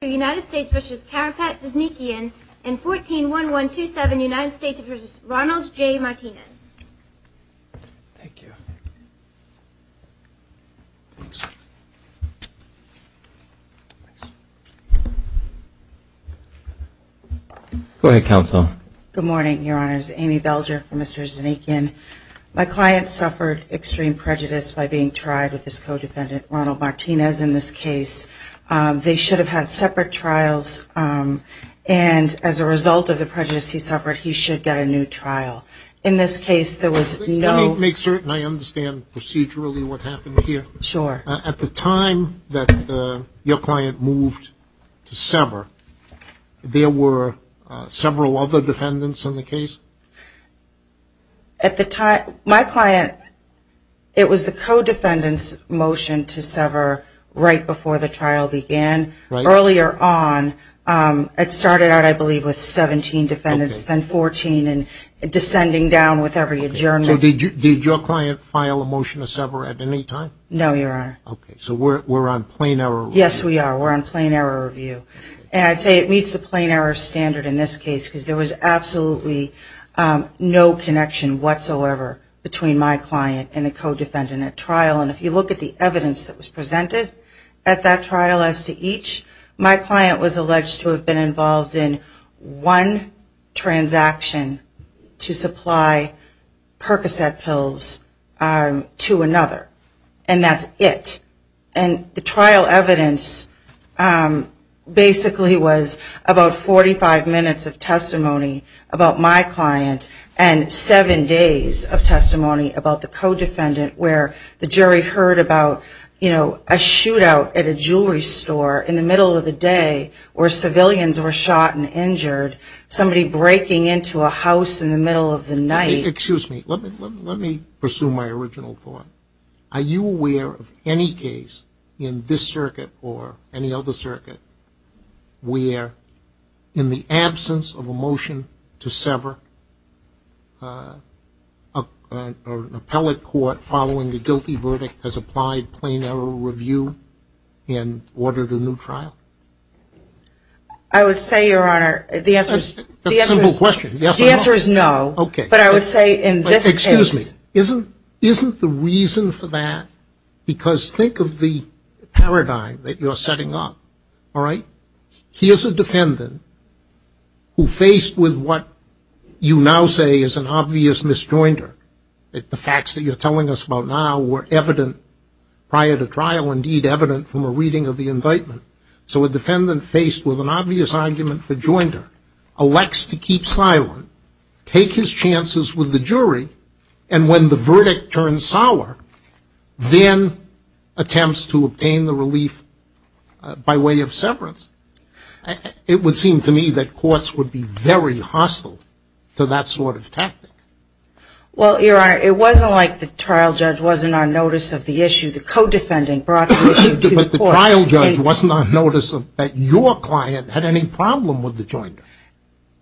and 14-1-1-2-7 United States v. Ronald J. Martinez. Thank you. Go ahead, Counsel. Good morning, Your Honors. Amy Belger for Mr. Dzhanikyan. My client suffered extreme prejudice by being tried with his co-defendant, Ronald Martinez, in this case. They should have had separate trials, and as a result of the prejudice he suffered, he should get a new trial. In this case, there was no... Let me make certain I understand procedurally what happened here. Sure. At the time that your client moved to sever, there were several other defendants in the case? At the time, my client, it was the co-defendant's motion to sever right before the trial began. Right. Earlier on, it started out, I believe, with 17 defendants, then 14, and descending down with every adjournment. So did your client file a motion to sever at any time? No, Your Honor. Okay. So we're on plain error review. Yes, we are. We're on plain error review. And I'd say it meets the plain error standard in this case, because there was absolutely no connection whatsoever between my client and the co-defendant at trial. And if you look at the evidence that was presented at that trial as to each, my client was alleged to have been involved in one transaction to supply Percocet pills to another, and that's it. And the trial evidence basically was about 45 minutes of testimony about my client and seven days of testimony about the co-defendant, where the jury heard about, you know, a shootout at a jewelry store in the middle of the day where civilians were shot and injured, somebody breaking into a house in the middle of the night. Excuse me. Let me pursue my original thought. Are you aware of any case in this circuit or any other circuit where, in the absence of a motion to sever, an appellate court following a guilty verdict has applied plain error review and ordered a new trial? I would say, Your Honor, the answer is no. Okay. But I would say in this case. Excuse me. Isn't the reason for that? Because think of the paradigm that you're setting up, all right? Here's a defendant who faced with what you now say is an obvious misjoinder. The facts that you're telling us about now were evident prior to trial, indeed evident from a reading of the indictment. So a defendant faced with an obvious argument for joinder elects to keep silent, take his chances with the jury, and when the verdict turns sour, then attempts to obtain the relief by way of severance. It would seem to me that courts would be very hostile to that sort of tactic. Well, Your Honor, it wasn't like the trial judge wasn't on notice of the issue. The co-defendant brought the issue to the court. The trial judge wasn't on notice that your client had any problem with the joinder.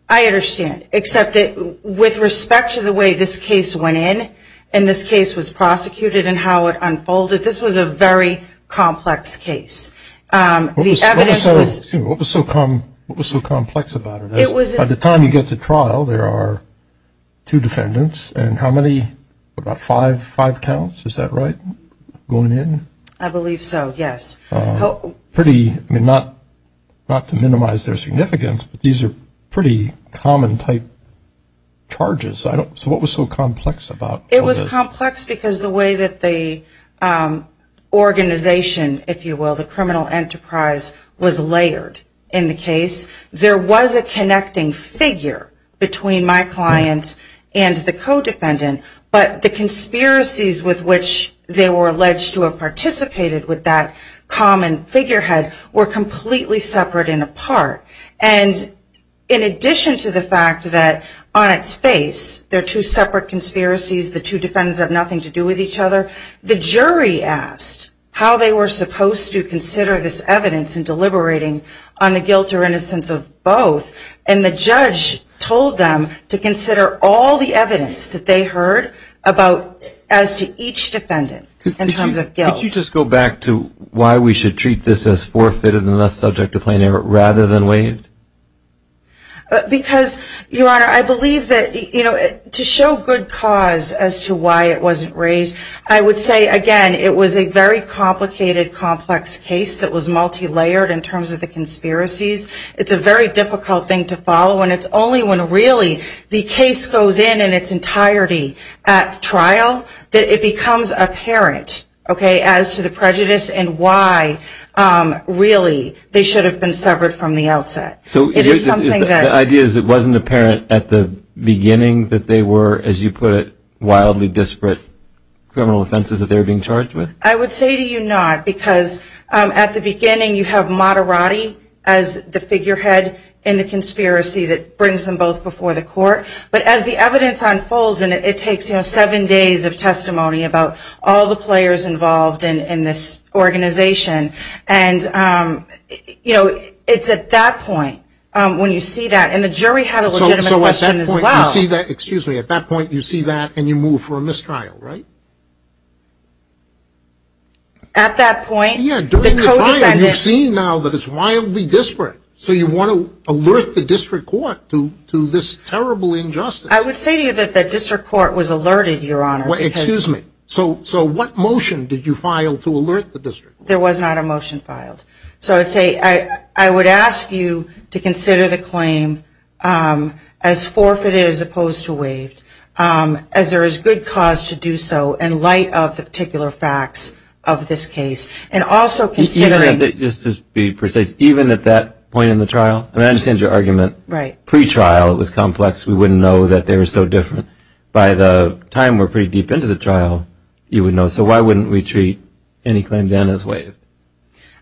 I understand, except that with respect to the way this case went in and this case was prosecuted and how it unfolded, this was a very complex case. What was so complex about it? By the time you get to trial, there are two defendants and how many, what, about five counts? Is that right, going in? I believe so, yes. Pretty, I mean, not to minimize their significance, but these are pretty common type charges. So what was so complex about all this? It was complex because the way that the organization, if you will, the criminal enterprise, was layered in the case. There was a connecting figure between my client and the co-defendant, but the conspiracies with which they were alleged to have participated with that common figurehead were completely separate and apart. And in addition to the fact that on its face there are two separate conspiracies, the two defendants have nothing to do with each other, the jury asked how they were supposed to consider this evidence in deliberating on the guilt or innocence of both. And the judge told them to consider all the evidence that they heard as to each defendant in terms of guilt. Could you just go back to why we should treat this as forfeited and thus subject to plaintiff rather than waived? Because, Your Honor, I believe that to show good cause as to why it wasn't raised, I would say, again, it was a very complicated, complex case that was multilayered in terms of the conspiracies. It's a very difficult thing to follow. And it's only when really the case goes in in its entirety at trial that it becomes apparent, okay, as to the prejudice and why really they should have been severed from the outset. So the idea is it wasn't apparent at the beginning that they were, as you put it, wildly disparate criminal offenses that they were being charged with? I would say to you not, because at the beginning you have Matarati as the figurehead in the conspiracy that brings them both before the court. But as the evidence unfolds, and it takes, you know, seven days of testimony about all the players involved in this organization, and, you know, it's at that point when you see that. And the jury had a legitimate question as well. Excuse me, at that point you see that and you move for a mistrial, right? At that point. Yeah, during the trial you've seen now that it's wildly disparate. So you want to alert the district court to this terrible injustice. I would say to you that the district court was alerted, Your Honor. Excuse me. So what motion did you file to alert the district? There was not a motion filed. So I would say I would ask you to consider the claim as forfeited as opposed to waived, as there is good cause to do so in light of the particular facts of this case. And also considering. Just to be precise, even at that point in the trial? I understand your argument. Right. Pre-trial it was complex. We wouldn't know that they were so different. By the time we're pretty deep into the trial, you would know. So why wouldn't we treat any claim done as waived?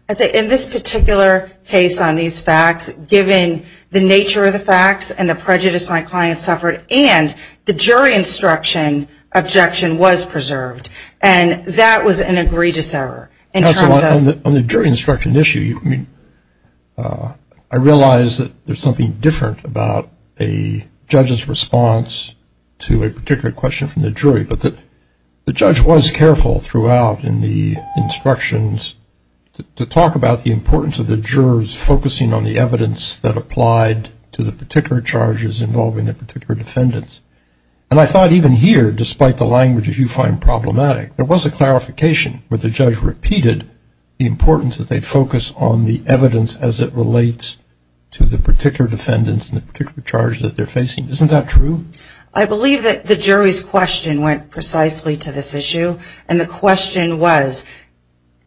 I'd say in this particular case on these facts, given the nature of the facts and the prejudice my client suffered and the jury instruction objection was preserved. And that was an egregious error. On the jury instruction issue, I realize that there's something different about a judge's response to a particular question from the jury. But the judge was careful throughout in the instructions to talk about the importance of the jurors focusing on the evidence that applied to the particular charges involving the particular defendants. And I thought even here, despite the language that you find problematic, there was a clarification where the judge repeated the importance that they focus on the evidence as it relates to the particular defendants and the particular charge that they're facing. Isn't that true? I believe that the jury's question went precisely to this issue. And the question was,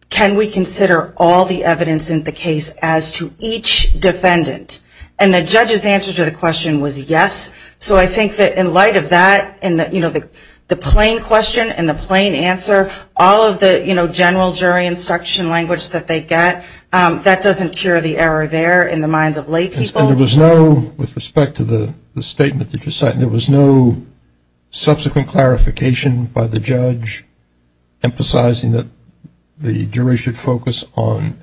can we consider all the evidence in the case as to each defendant? And the judge's answer to the question was yes. So I think that in light of that and the plain question and the plain answer, all of the general jury instruction language that they get, that doesn't cure the error there in the minds of laypeople. With respect to the statement that you cited, there was no subsequent clarification by the judge emphasizing that the jury should focus on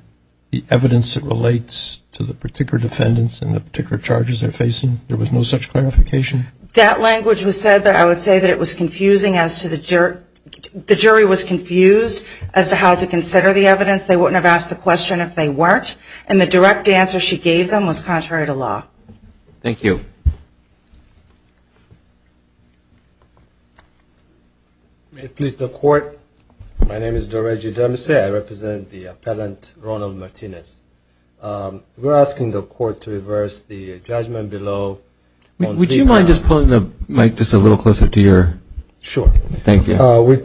the evidence that relates to the particular defendants and the particular charges they're facing? There was no such clarification? That language was said, but I would say that it was confusing as to the jury. The jury was confused as to how to consider the evidence. They wouldn't have asked the question if they weren't. And the direct answer she gave them was contrary to law. Thank you. May it please the Court. My name is Doreji Demise. I represent the appellant, Ronald Martinez. We're asking the Court to reverse the judgment below on three grounds. Would you mind just pulling the mic just a little closer to your? Sure. Thank you. We're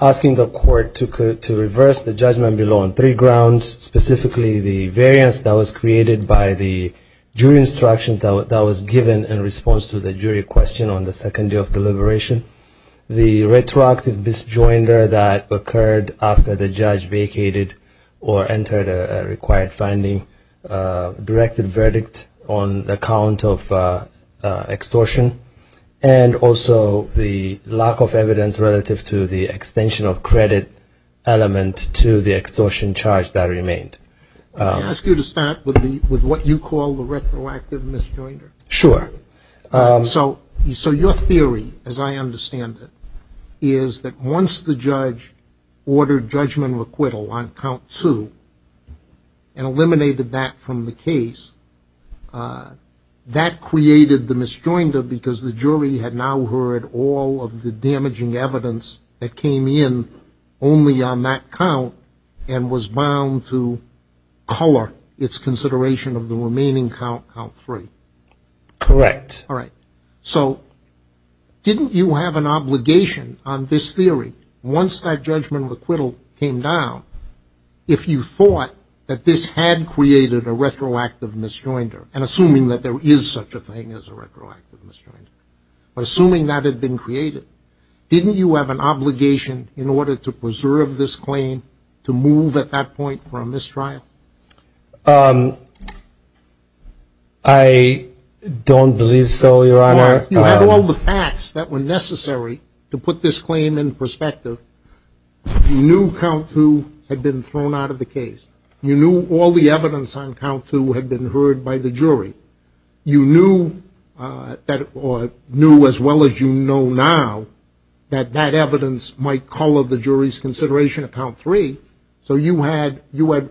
asking the Court to reverse the judgment below on three grounds, specifically the variance that was created by the jury instruction that was given in response to the jury question on the second day of deliberation, the retroactive disjoinder that occurred after the judge vacated or entered a required finding, directed verdict on account of extortion, and also the lack of evidence relative to the extension of credit element to the extortion charge that remained. May I ask you to start with what you call the retroactive misjoinder? Sure. So your theory, as I understand it, is that once the judge ordered judgment acquittal on count two and eliminated that from the case, that created the misjoinder because the jury had now heard all of the damaging evidence that came in only on that count and was bound to color its consideration of the remaining count, count three. Correct. All right. So didn't you have an obligation on this theory, once that judgment acquittal came down, if you thought that this had created a retroactive misjoinder, and assuming that there is such a thing as a retroactive misjoinder, assuming that had been created, didn't you have an obligation in order to preserve this claim to move at that point from this trial? I don't believe so, Your Honor. You had all the facts that were necessary to put this claim in perspective. You knew count two had been thrown out of the case. You knew all the evidence on count two had been heard by the jury. You knew as well as you know now that that evidence might color the jury's consideration of count three, so you had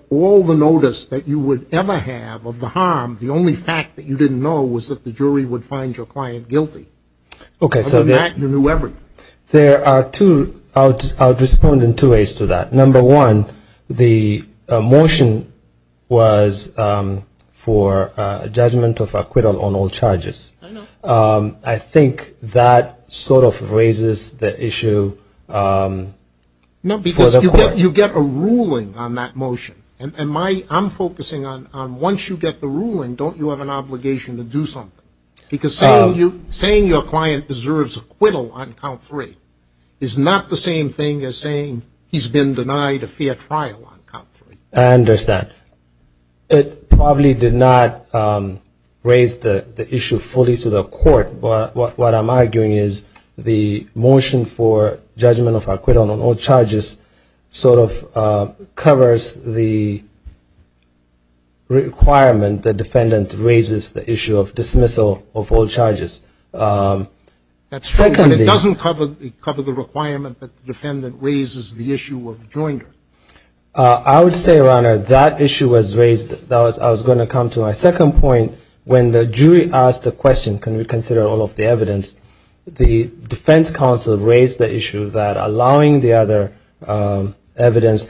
all the notice that you would ever have of the harm. The only fact that you didn't know was that the jury would find your client guilty. Other than that, you knew everything. There are two – I'll respond in two ways to that. Number one, the motion was for judgment of acquittal on all charges. I know. I think that sort of raises the issue for the court. No, because you get a ruling on that motion, and I'm focusing on once you get the ruling, don't you have an obligation to do something? Because saying your client deserves acquittal on count three is not the same thing as saying he's been denied a fair trial on count three. I understand. It probably did not raise the issue fully to the court, but what I'm arguing is the motion for judgment of acquittal on all charges sort of raises the requirement the defendant raises the issue of dismissal of all charges. That's true, but it doesn't cover the requirement that the defendant raises the issue of joinder. I would say, Your Honor, that issue was raised. I was going to come to my second point. When the jury asked the question, can we consider all of the evidence, the defense counsel raised the issue that allowing the other evidence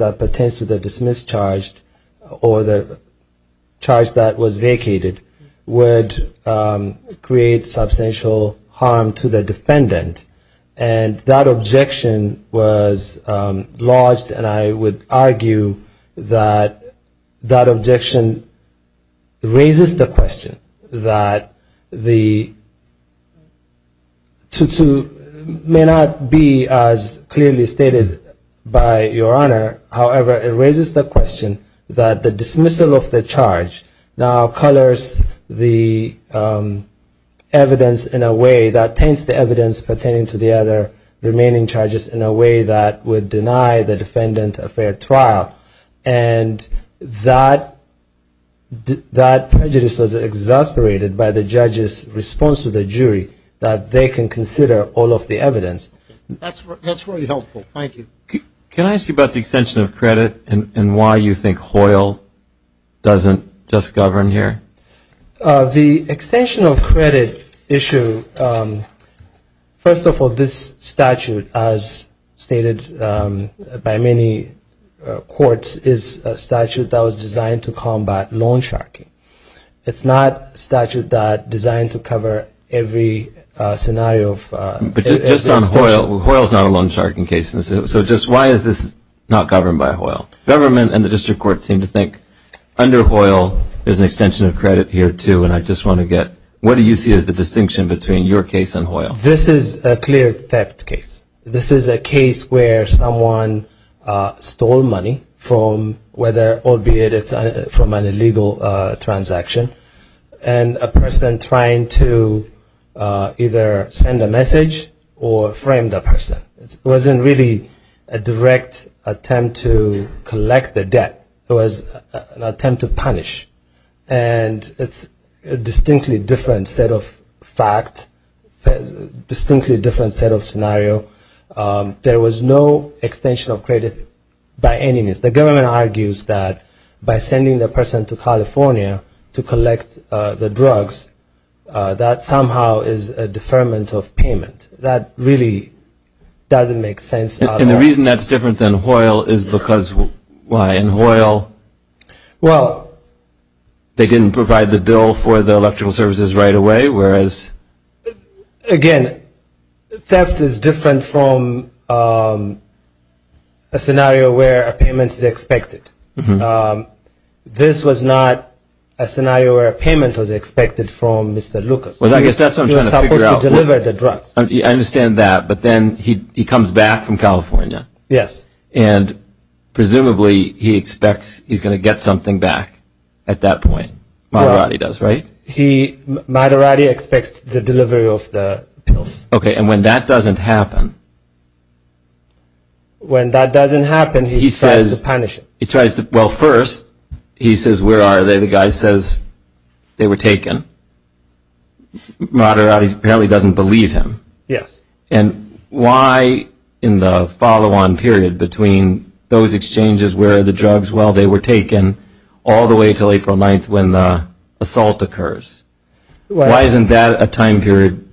that pertains to the dismissed charge or the charge that was vacated would create substantial harm to the defendant. And that objection was lodged, and I would argue that that objection raises the question that the 2-2 may not be as clearly stated by Your Honor. However, it raises the question that the dismissal of the charge now colors the evidence in a way that taints the evidence pertaining to the other remaining charges in a way that would deny the defendant a fair trial. And that prejudice was exasperated by the judge's response to the jury that they can consider all of the evidence. That's very helpful. Thank you. Can I ask you about the extension of credit and why you think Hoyle doesn't just govern here? The extension of credit issue, first of all, this statute, as stated by many courts, is a statute that was designed to combat loan sharking. It's not a statute that's designed to cover every scenario. But just on Hoyle, Hoyle's not a loan sharking case. Government and the district courts seem to think under Hoyle there's an extension of credit here, too, and I just want to get what do you see as the distinction between your case and Hoyle? This is a clear theft case. This is a case where someone stole money from whether or be it from an illegal transaction, and a person trying to either send a message or frame the person. It wasn't really a direct attempt to collect the debt. It was an attempt to punish. And it's a distinctly different set of fact, distinctly different set of scenario. There was no extension of credit by any means. The government argues that by sending the person to California to collect the drugs, that somehow is a deferment of payment. That really doesn't make sense. And the reason that's different than Hoyle is because why? In Hoyle they didn't provide the bill for the electrical services right away, whereas? Again, theft is different from a scenario where a payment is expected. This was not a scenario where a payment was expected from Mr. Lucas. Well, I guess that's what I'm trying to figure out. He was supposed to deliver the drugs. I understand that, but then he comes back from California. Yes. And presumably he expects he's going to get something back at that point. Madarati does, right? Madarati expects the delivery of the pills. Okay, and when that doesn't happen? When that doesn't happen, he tries to punish him. Well, first he says, where are they? The guy says they were taken. Madarati apparently doesn't believe him. Yes. And why in the follow-on period between those exchanges where the drugs, well, they were taken, all the way until April 9th when the assault occurs? Why isn't that a time period,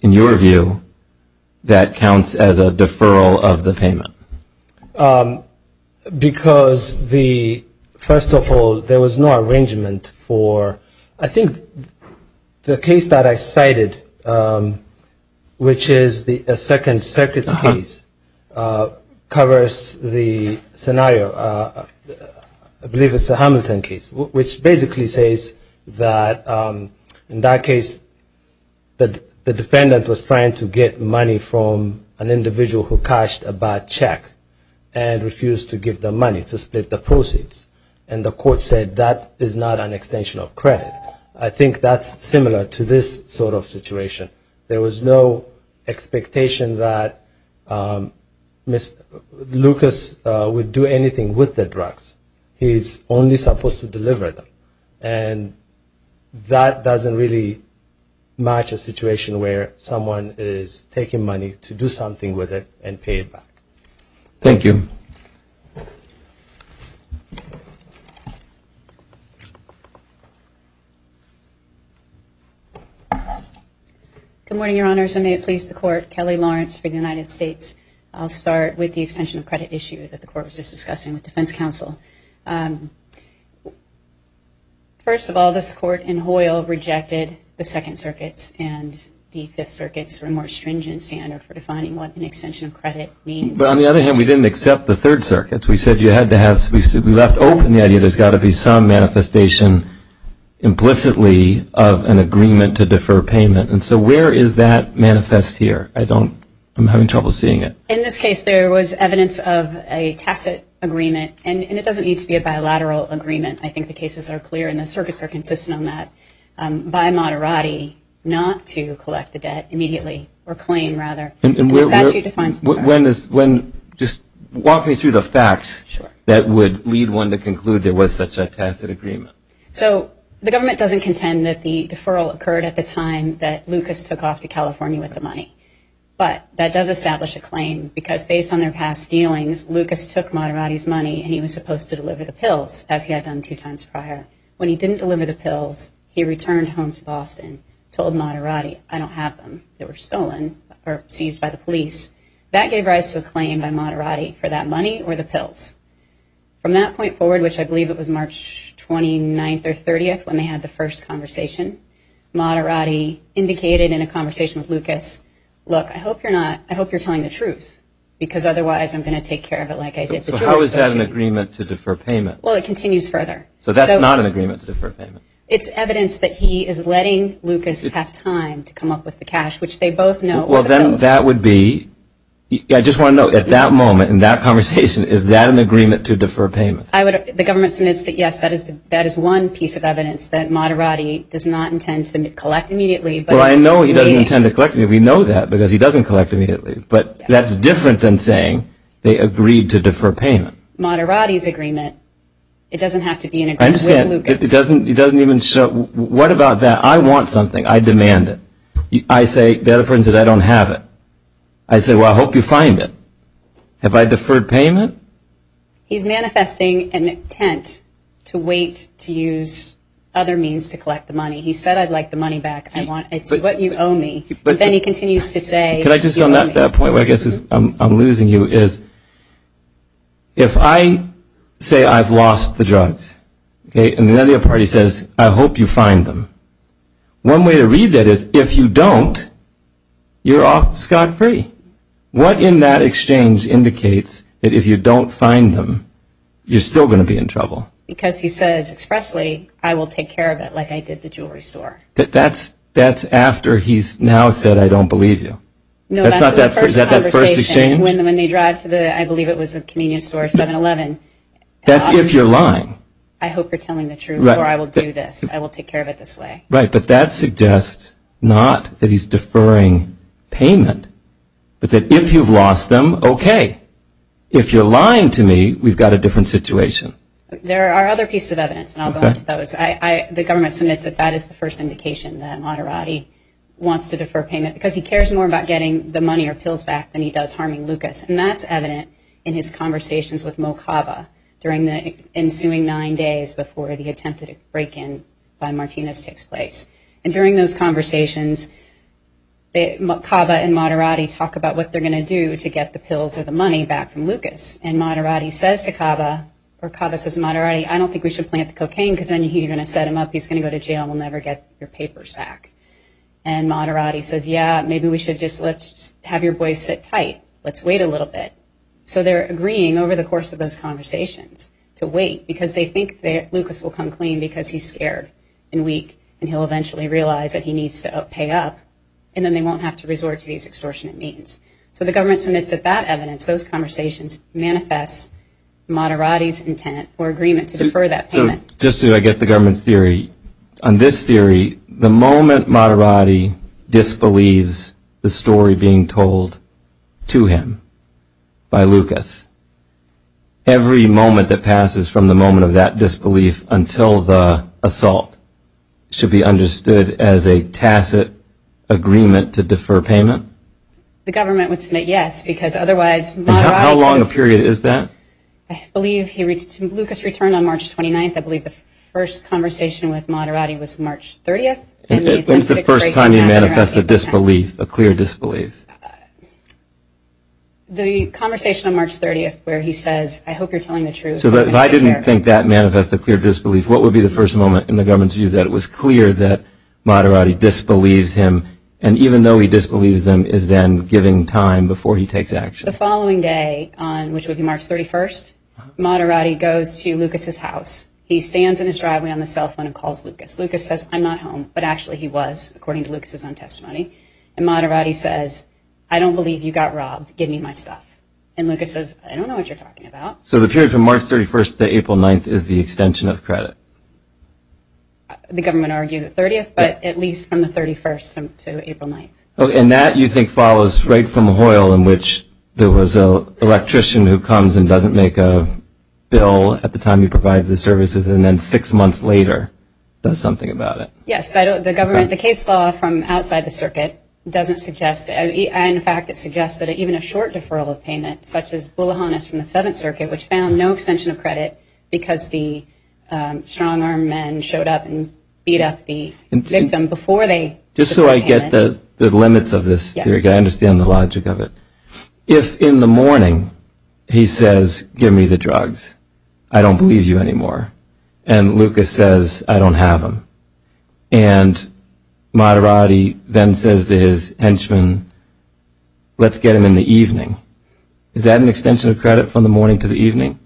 in your view, that counts as a deferral of the payment? Because, first of all, there was no arrangement for, I think the case that I cited, which is the second circuit case, covers the scenario, I believe it's the Hamilton case, which basically says that in that case the defendant was trying to get money from an individual who cashed a bad check and refused to give the money to split the proceeds. And the court said that is not an extension of credit. I think that's similar to this sort of situation. There was no expectation that Lucas would do anything with the drugs. He's only supposed to deliver them. And that doesn't really match a situation where someone is taking money to do something with it and pay it back. Thank you. Good morning, Your Honors, and may it please the Court. Kelly Lawrence for the United States. I'll start with the extension of credit issue that the Court was just discussing with Defense Counsel. First of all, this Court in Hoyle rejected the second circuits and the fifth circuits were a more stringent standard for defining what an extension of credit means. But on the other hand, we didn't accept the third circuits. We said you had to have, we left open the idea there's got to be some manifestation implicitly of an agreement to defer payment. And so where is that manifest here? I don't, I'm having trouble seeing it. In this case, there was evidence of a tacit agreement. And it doesn't need to be a bilateral agreement. I think the cases are clear and the circuits are consistent on that, by moderati, not to collect the debt immediately, or claim rather. And the statute defines it. Just walk me through the facts that would lead one to conclude there was such a tacit agreement. So the government doesn't contend that the deferral occurred at the time that Lucas took off to California with the money. But that does establish a claim because based on their past dealings, Lucas took moderati's money and he was supposed to deliver the pills, as he had done two times prior. When he didn't deliver the pills, he returned home to Boston, told moderati I don't have them. They were stolen, or seized by the police. That gave rise to a claim by moderati for that money or the pills. From that point forward, which I believe it was March 29th or 30th when they had the first conversation, moderati indicated in a conversation with Lucas, look, I hope you're telling the truth, because otherwise I'm going to take care of it like I did the drugs. So how is that an agreement to defer payment? Well, it continues further. So that's not an agreement to defer payment? It's evidence that he is letting Lucas have time to come up with the cash, which they both know were the pills. Well, then that would be, I just want to know, at that moment in that conversation, is that an agreement to defer payment? The government admits that, yes, that is one piece of evidence that moderati does not intend to collect immediately. Well, I know he doesn't intend to collect immediately. We know that because he doesn't collect immediately. But that's different than saying they agreed to defer payment. Moderati's agreement, it doesn't have to be an agreement with Lucas. I understand. It doesn't even show. What about that? I want something. I demand it. I say, the other person says, I don't have it. I say, well, I hope you find it. Have I deferred payment? He's manifesting an intent to wait to use other means to collect the money. He said, I'd like the money back. It's what you owe me. But then he continues to say, you owe me. Can I just, on that point, where I guess I'm losing you, is if I say I've lost the drugs, okay, and then the other party says, I hope you find them, one way to read that is, if you don't, you're off scot-free. What in that exchange indicates that if you don't find them, you're still going to be in trouble? Because he says expressly, I will take care of it like I did the jewelry store. That's after he's now said, I don't believe you. No, that's the first conversation. Is that that first exchange? When they drive to the, I believe it was a convenience store, 7-Eleven. That's if you're lying. I hope you're telling the truth, or I will do this. I will take care of it this way. Right, but that suggests not that he's deferring payment, but that if you've lost them, okay. If you're lying to me, we've got a different situation. There are other pieces of evidence, and I'll go into those. The government submits that that is the first indication that Matarati wants to defer payment because he cares more about getting the money or pills back than he does harming Lucas, and that's evident in his conversations with Mo Cava during the ensuing nine days before the attempted break-in by Martinez takes place. And during those conversations, Mo Cava and Matarati talk about what they're going to do to get the pills or the money back from Lucas, and Matarati says to Cava, or Cava says to Matarati, I don't think we should plant the cocaine because then you're going to set him up. He's going to go to jail and we'll never get your papers back. And Matarati says, yeah, maybe we should just have your boys sit tight. Let's wait a little bit. So they're agreeing over the course of those conversations to wait because they think that Lucas will come clean because he's scared and weak and he'll eventually realize that he needs to pay up, and then they won't have to resort to these extortionate means. So the government submits that that evidence, those conversations, manifest Matarati's intent or agreement to defer that payment. So just so I get the government's theory, on this theory, the moment Matarati disbelieves the story being told to him by Lucas, every moment that passes from the moment of that disbelief until the assault should be understood as a tacit agreement to defer payment? The government would submit yes because otherwise Matarati could have... And how long a period is that? I believe Lucas returned on March 29th. I believe the first conversation with Matarati was March 30th. When's the first time he manifested disbelief, a clear disbelief? The conversation on March 30th where he says, I hope you're telling the truth. So if I didn't think that manifested clear disbelief, what would be the first moment in the government's view that it was clear that Matarati disbelieves him, and even though he disbelieves him, is then giving time before he takes action? The following day, which would be March 31st, Matarati goes to Lucas's house. He stands in his driveway on the cell phone and calls Lucas. Lucas says, I'm not home, but actually he was, according to Lucas's own testimony. And Matarati says, I don't believe you got robbed. Give me my stuff. And Lucas says, I don't know what you're talking about. So the period from March 31st to April 9th is the extension of credit? The government argued the 30th, but at least from the 31st to April 9th. And that, you think, follows right from Hoyle in which there was an electrician who comes and doesn't make a bill at the time he provides the services and then six months later does something about it. Yes. The case law from outside the circuit doesn't suggest that. In fact, it suggests that even a short deferral of payment, such as Bouloghanis from the Seventh Circuit, which found no extension of credit because the strong-armed men showed up and beat up the victim before they took the payment. Just so I get the limits of this. I understand the logic of it. If in the morning he says, give me the drugs. I don't believe you anymore. And Lucas says, I don't have them. And Madarati then says to his henchman, let's get them in the evening. Is that an extension of credit from the morning to the evening?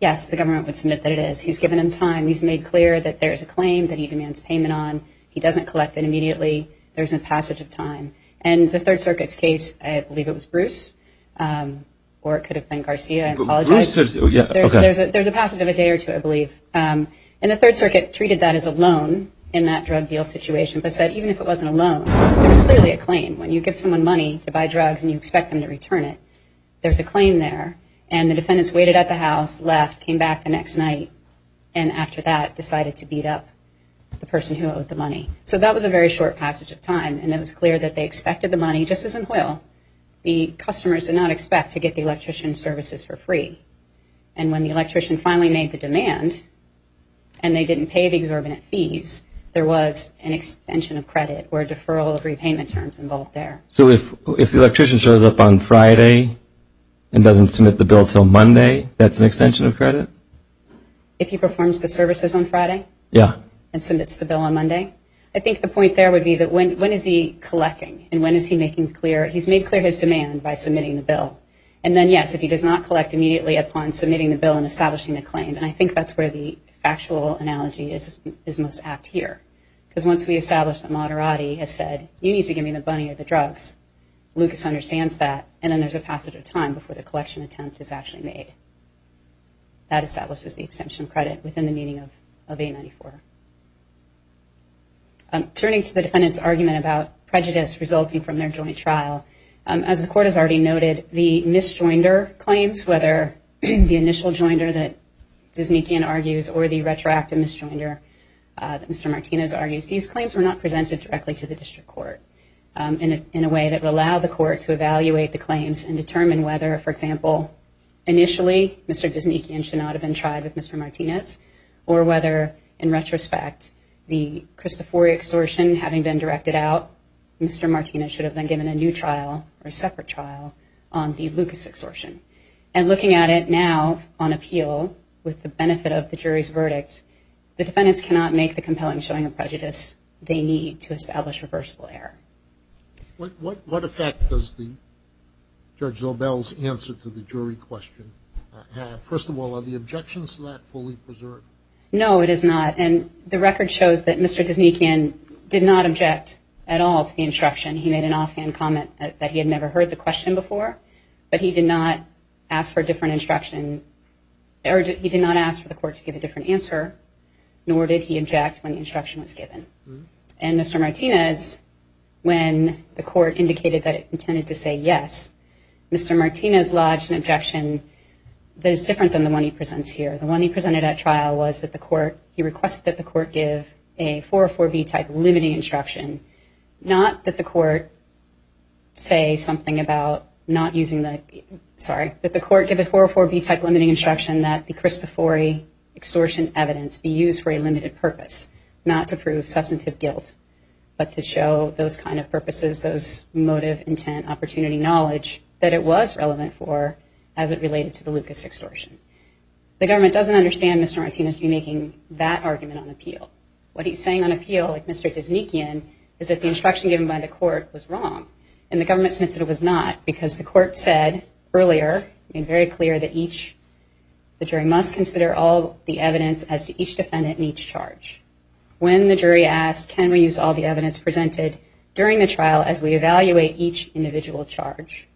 Yes, the government would submit that it is. He's given him time. He's made clear that there's a claim that he demands payment on. He doesn't collect it immediately. There's a passage of time. And the Third Circuit's case, I believe it was Bruce, or it could have been Garcia. I apologize. There's a passage of a day or two, I believe. And the Third Circuit treated that as a loan in that drug deal situation, but said even if it wasn't a loan, there was clearly a claim. When you give someone money to buy drugs and you expect them to return it, there's a claim there. And the defendants waited at the house, left, came back the next night, and after that decided to beat up the person who owed the money. So that was a very short passage of time. And it was clear that they expected the money just as in oil. The customers did not expect to get the electrician's services for free. And when the electrician finally made the demand and they didn't pay the exorbitant fees, there was an extension of credit or a deferral of repayment terms involved there. So if the electrician shows up on Friday and doesn't submit the bill until Monday, that's an extension of credit? If he performs the services on Friday? Yeah. And submits the bill on Monday? I think the point there would be that when is he collecting and when is he making clear? He's made clear his demand by submitting the bill. And then, yes, if he does not collect immediately upon submitting the bill and establishing the claim, and I think that's where the factual analogy is most apt here. Because once we establish that Moderati has said, you need to give me the money or the drugs, Lucas understands that, and then there's a passage of time before the collection attempt is actually made. That establishes the extension of credit within the meaning of A-94. Turning to the defendant's argument about prejudice resulting from their joint trial, as the Court has already noted, the misjoinder claims, whether the initial joinder that Dysnikian argues or the retroactive misjoinder that Mr. Martinez argues, these claims were not presented directly to the District Court in a way that would allow the Court to evaluate the claims and determine whether, for example, initially Mr. Dysnikian should not have been tried with Mr. Martinez or whether, in retrospect, the Cristofori extortion having been directed out, Mr. Martinez should have been given a new trial or a separate trial on the Lucas extortion. And looking at it now on appeal with the benefit of the jury's verdict, the defendants cannot make the compelling showing of prejudice they need to establish reversible error. What effect does Judge Lobel's answer to the jury question have? First of all, are the objections to that fully preserved? No, it is not. And the record shows that Mr. Dysnikian did not object at all to the instruction. He made an offhand comment that he had never heard the question before, but he did not ask for a different instruction, or he did not ask for the Court to give a different answer, nor did he object when the instruction was given. And Mr. Martinez, when the Court indicated that it intended to say yes, Mr. Martinez lodged an objection that is different than the one he presents here. The one he presented at trial was that the Court, he requested that the Court give a 404B-type limiting instruction, not that the Court say something about not using the, sorry, that the Court give a 404B-type limiting instruction that the Cristofori extortion evidence be used for a limited purpose, not to prove substantive guilt, but to show those kind of purposes, those motive, intent, opportunity, knowledge, that it was relevant for as it related to the Lucas extortion. The government doesn't understand Mr. Martinez making that argument on appeal. What he's saying on appeal, like Mr. Dysnikian, is that the instruction given by the Court was wrong, and the government submitted it was not because the Court said earlier, made very clear that each, the jury must consider all the evidence as to each defendant in each charge. When the jury asked, can we use all the evidence presented during the trial as we evaluate each individual charge,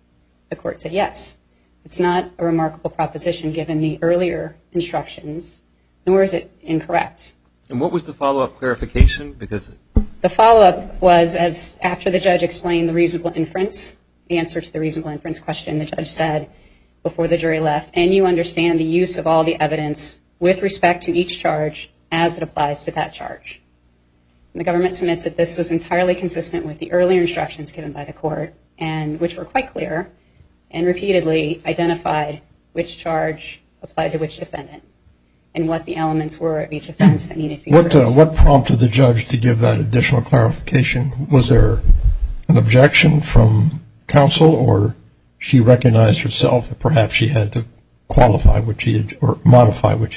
the Court said yes. It's not a remarkable proposition given the earlier instructions, nor is it incorrect. And what was the follow-up clarification? The follow-up was, as after the judge explained the reasonable inference, the answer to the reasonable inference question the judge said before the jury left, and you understand the use of all the evidence with respect to each charge as it applies to that charge. And the government submits that this was entirely consistent with the earlier instructions given by the Court, which were quite clear, and repeatedly identified which charge applied to which defendant and what the elements were of each offense that needed to be reversed. What prompted the judge to give that additional clarification? Was there an objection from counsel, or she recognized herself that perhaps she had to modify what she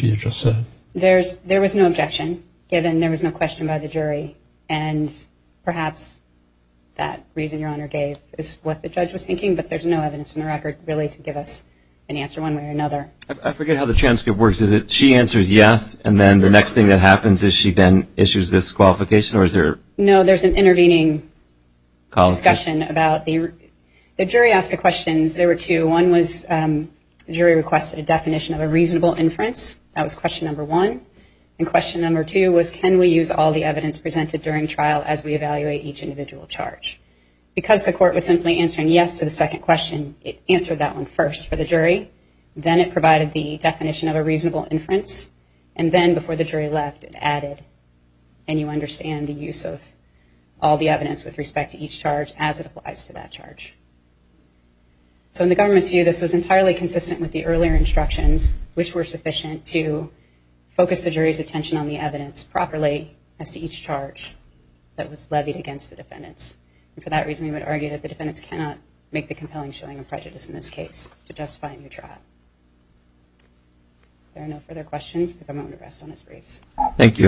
had just said? There was no objection given there was no question by the jury, and perhaps that reason Your Honor gave is what the judge was thinking, but there's no evidence in the record really to give us an answer one way or another. I forget how the transcript works. Is it she answers yes, and then the next thing that happens is she then issues this qualification? No, there's an intervening discussion. The jury asked the questions. There were two. One was the jury requested a definition of a reasonable inference. That was question number one. And question number two was can we use all the evidence presented during trial as we evaluate each individual charge? Because the Court was simply answering yes to the second question, it answered that one first for the jury. Then it provided the definition of a reasonable inference, and then before the jury left, it added and you understand the use of all the evidence with respect to each charge as it applies to that charge. So in the government's view, this was entirely consistent with the earlier instructions, which were sufficient to focus the jury's attention on the evidence properly as to each charge that was levied against the defendants. And for that reason, we would argue that the defendants cannot make the compelling showing of prejudice in this case to justify a new trial. If there are no further questions, I'm going to rest on his grace. Thank you.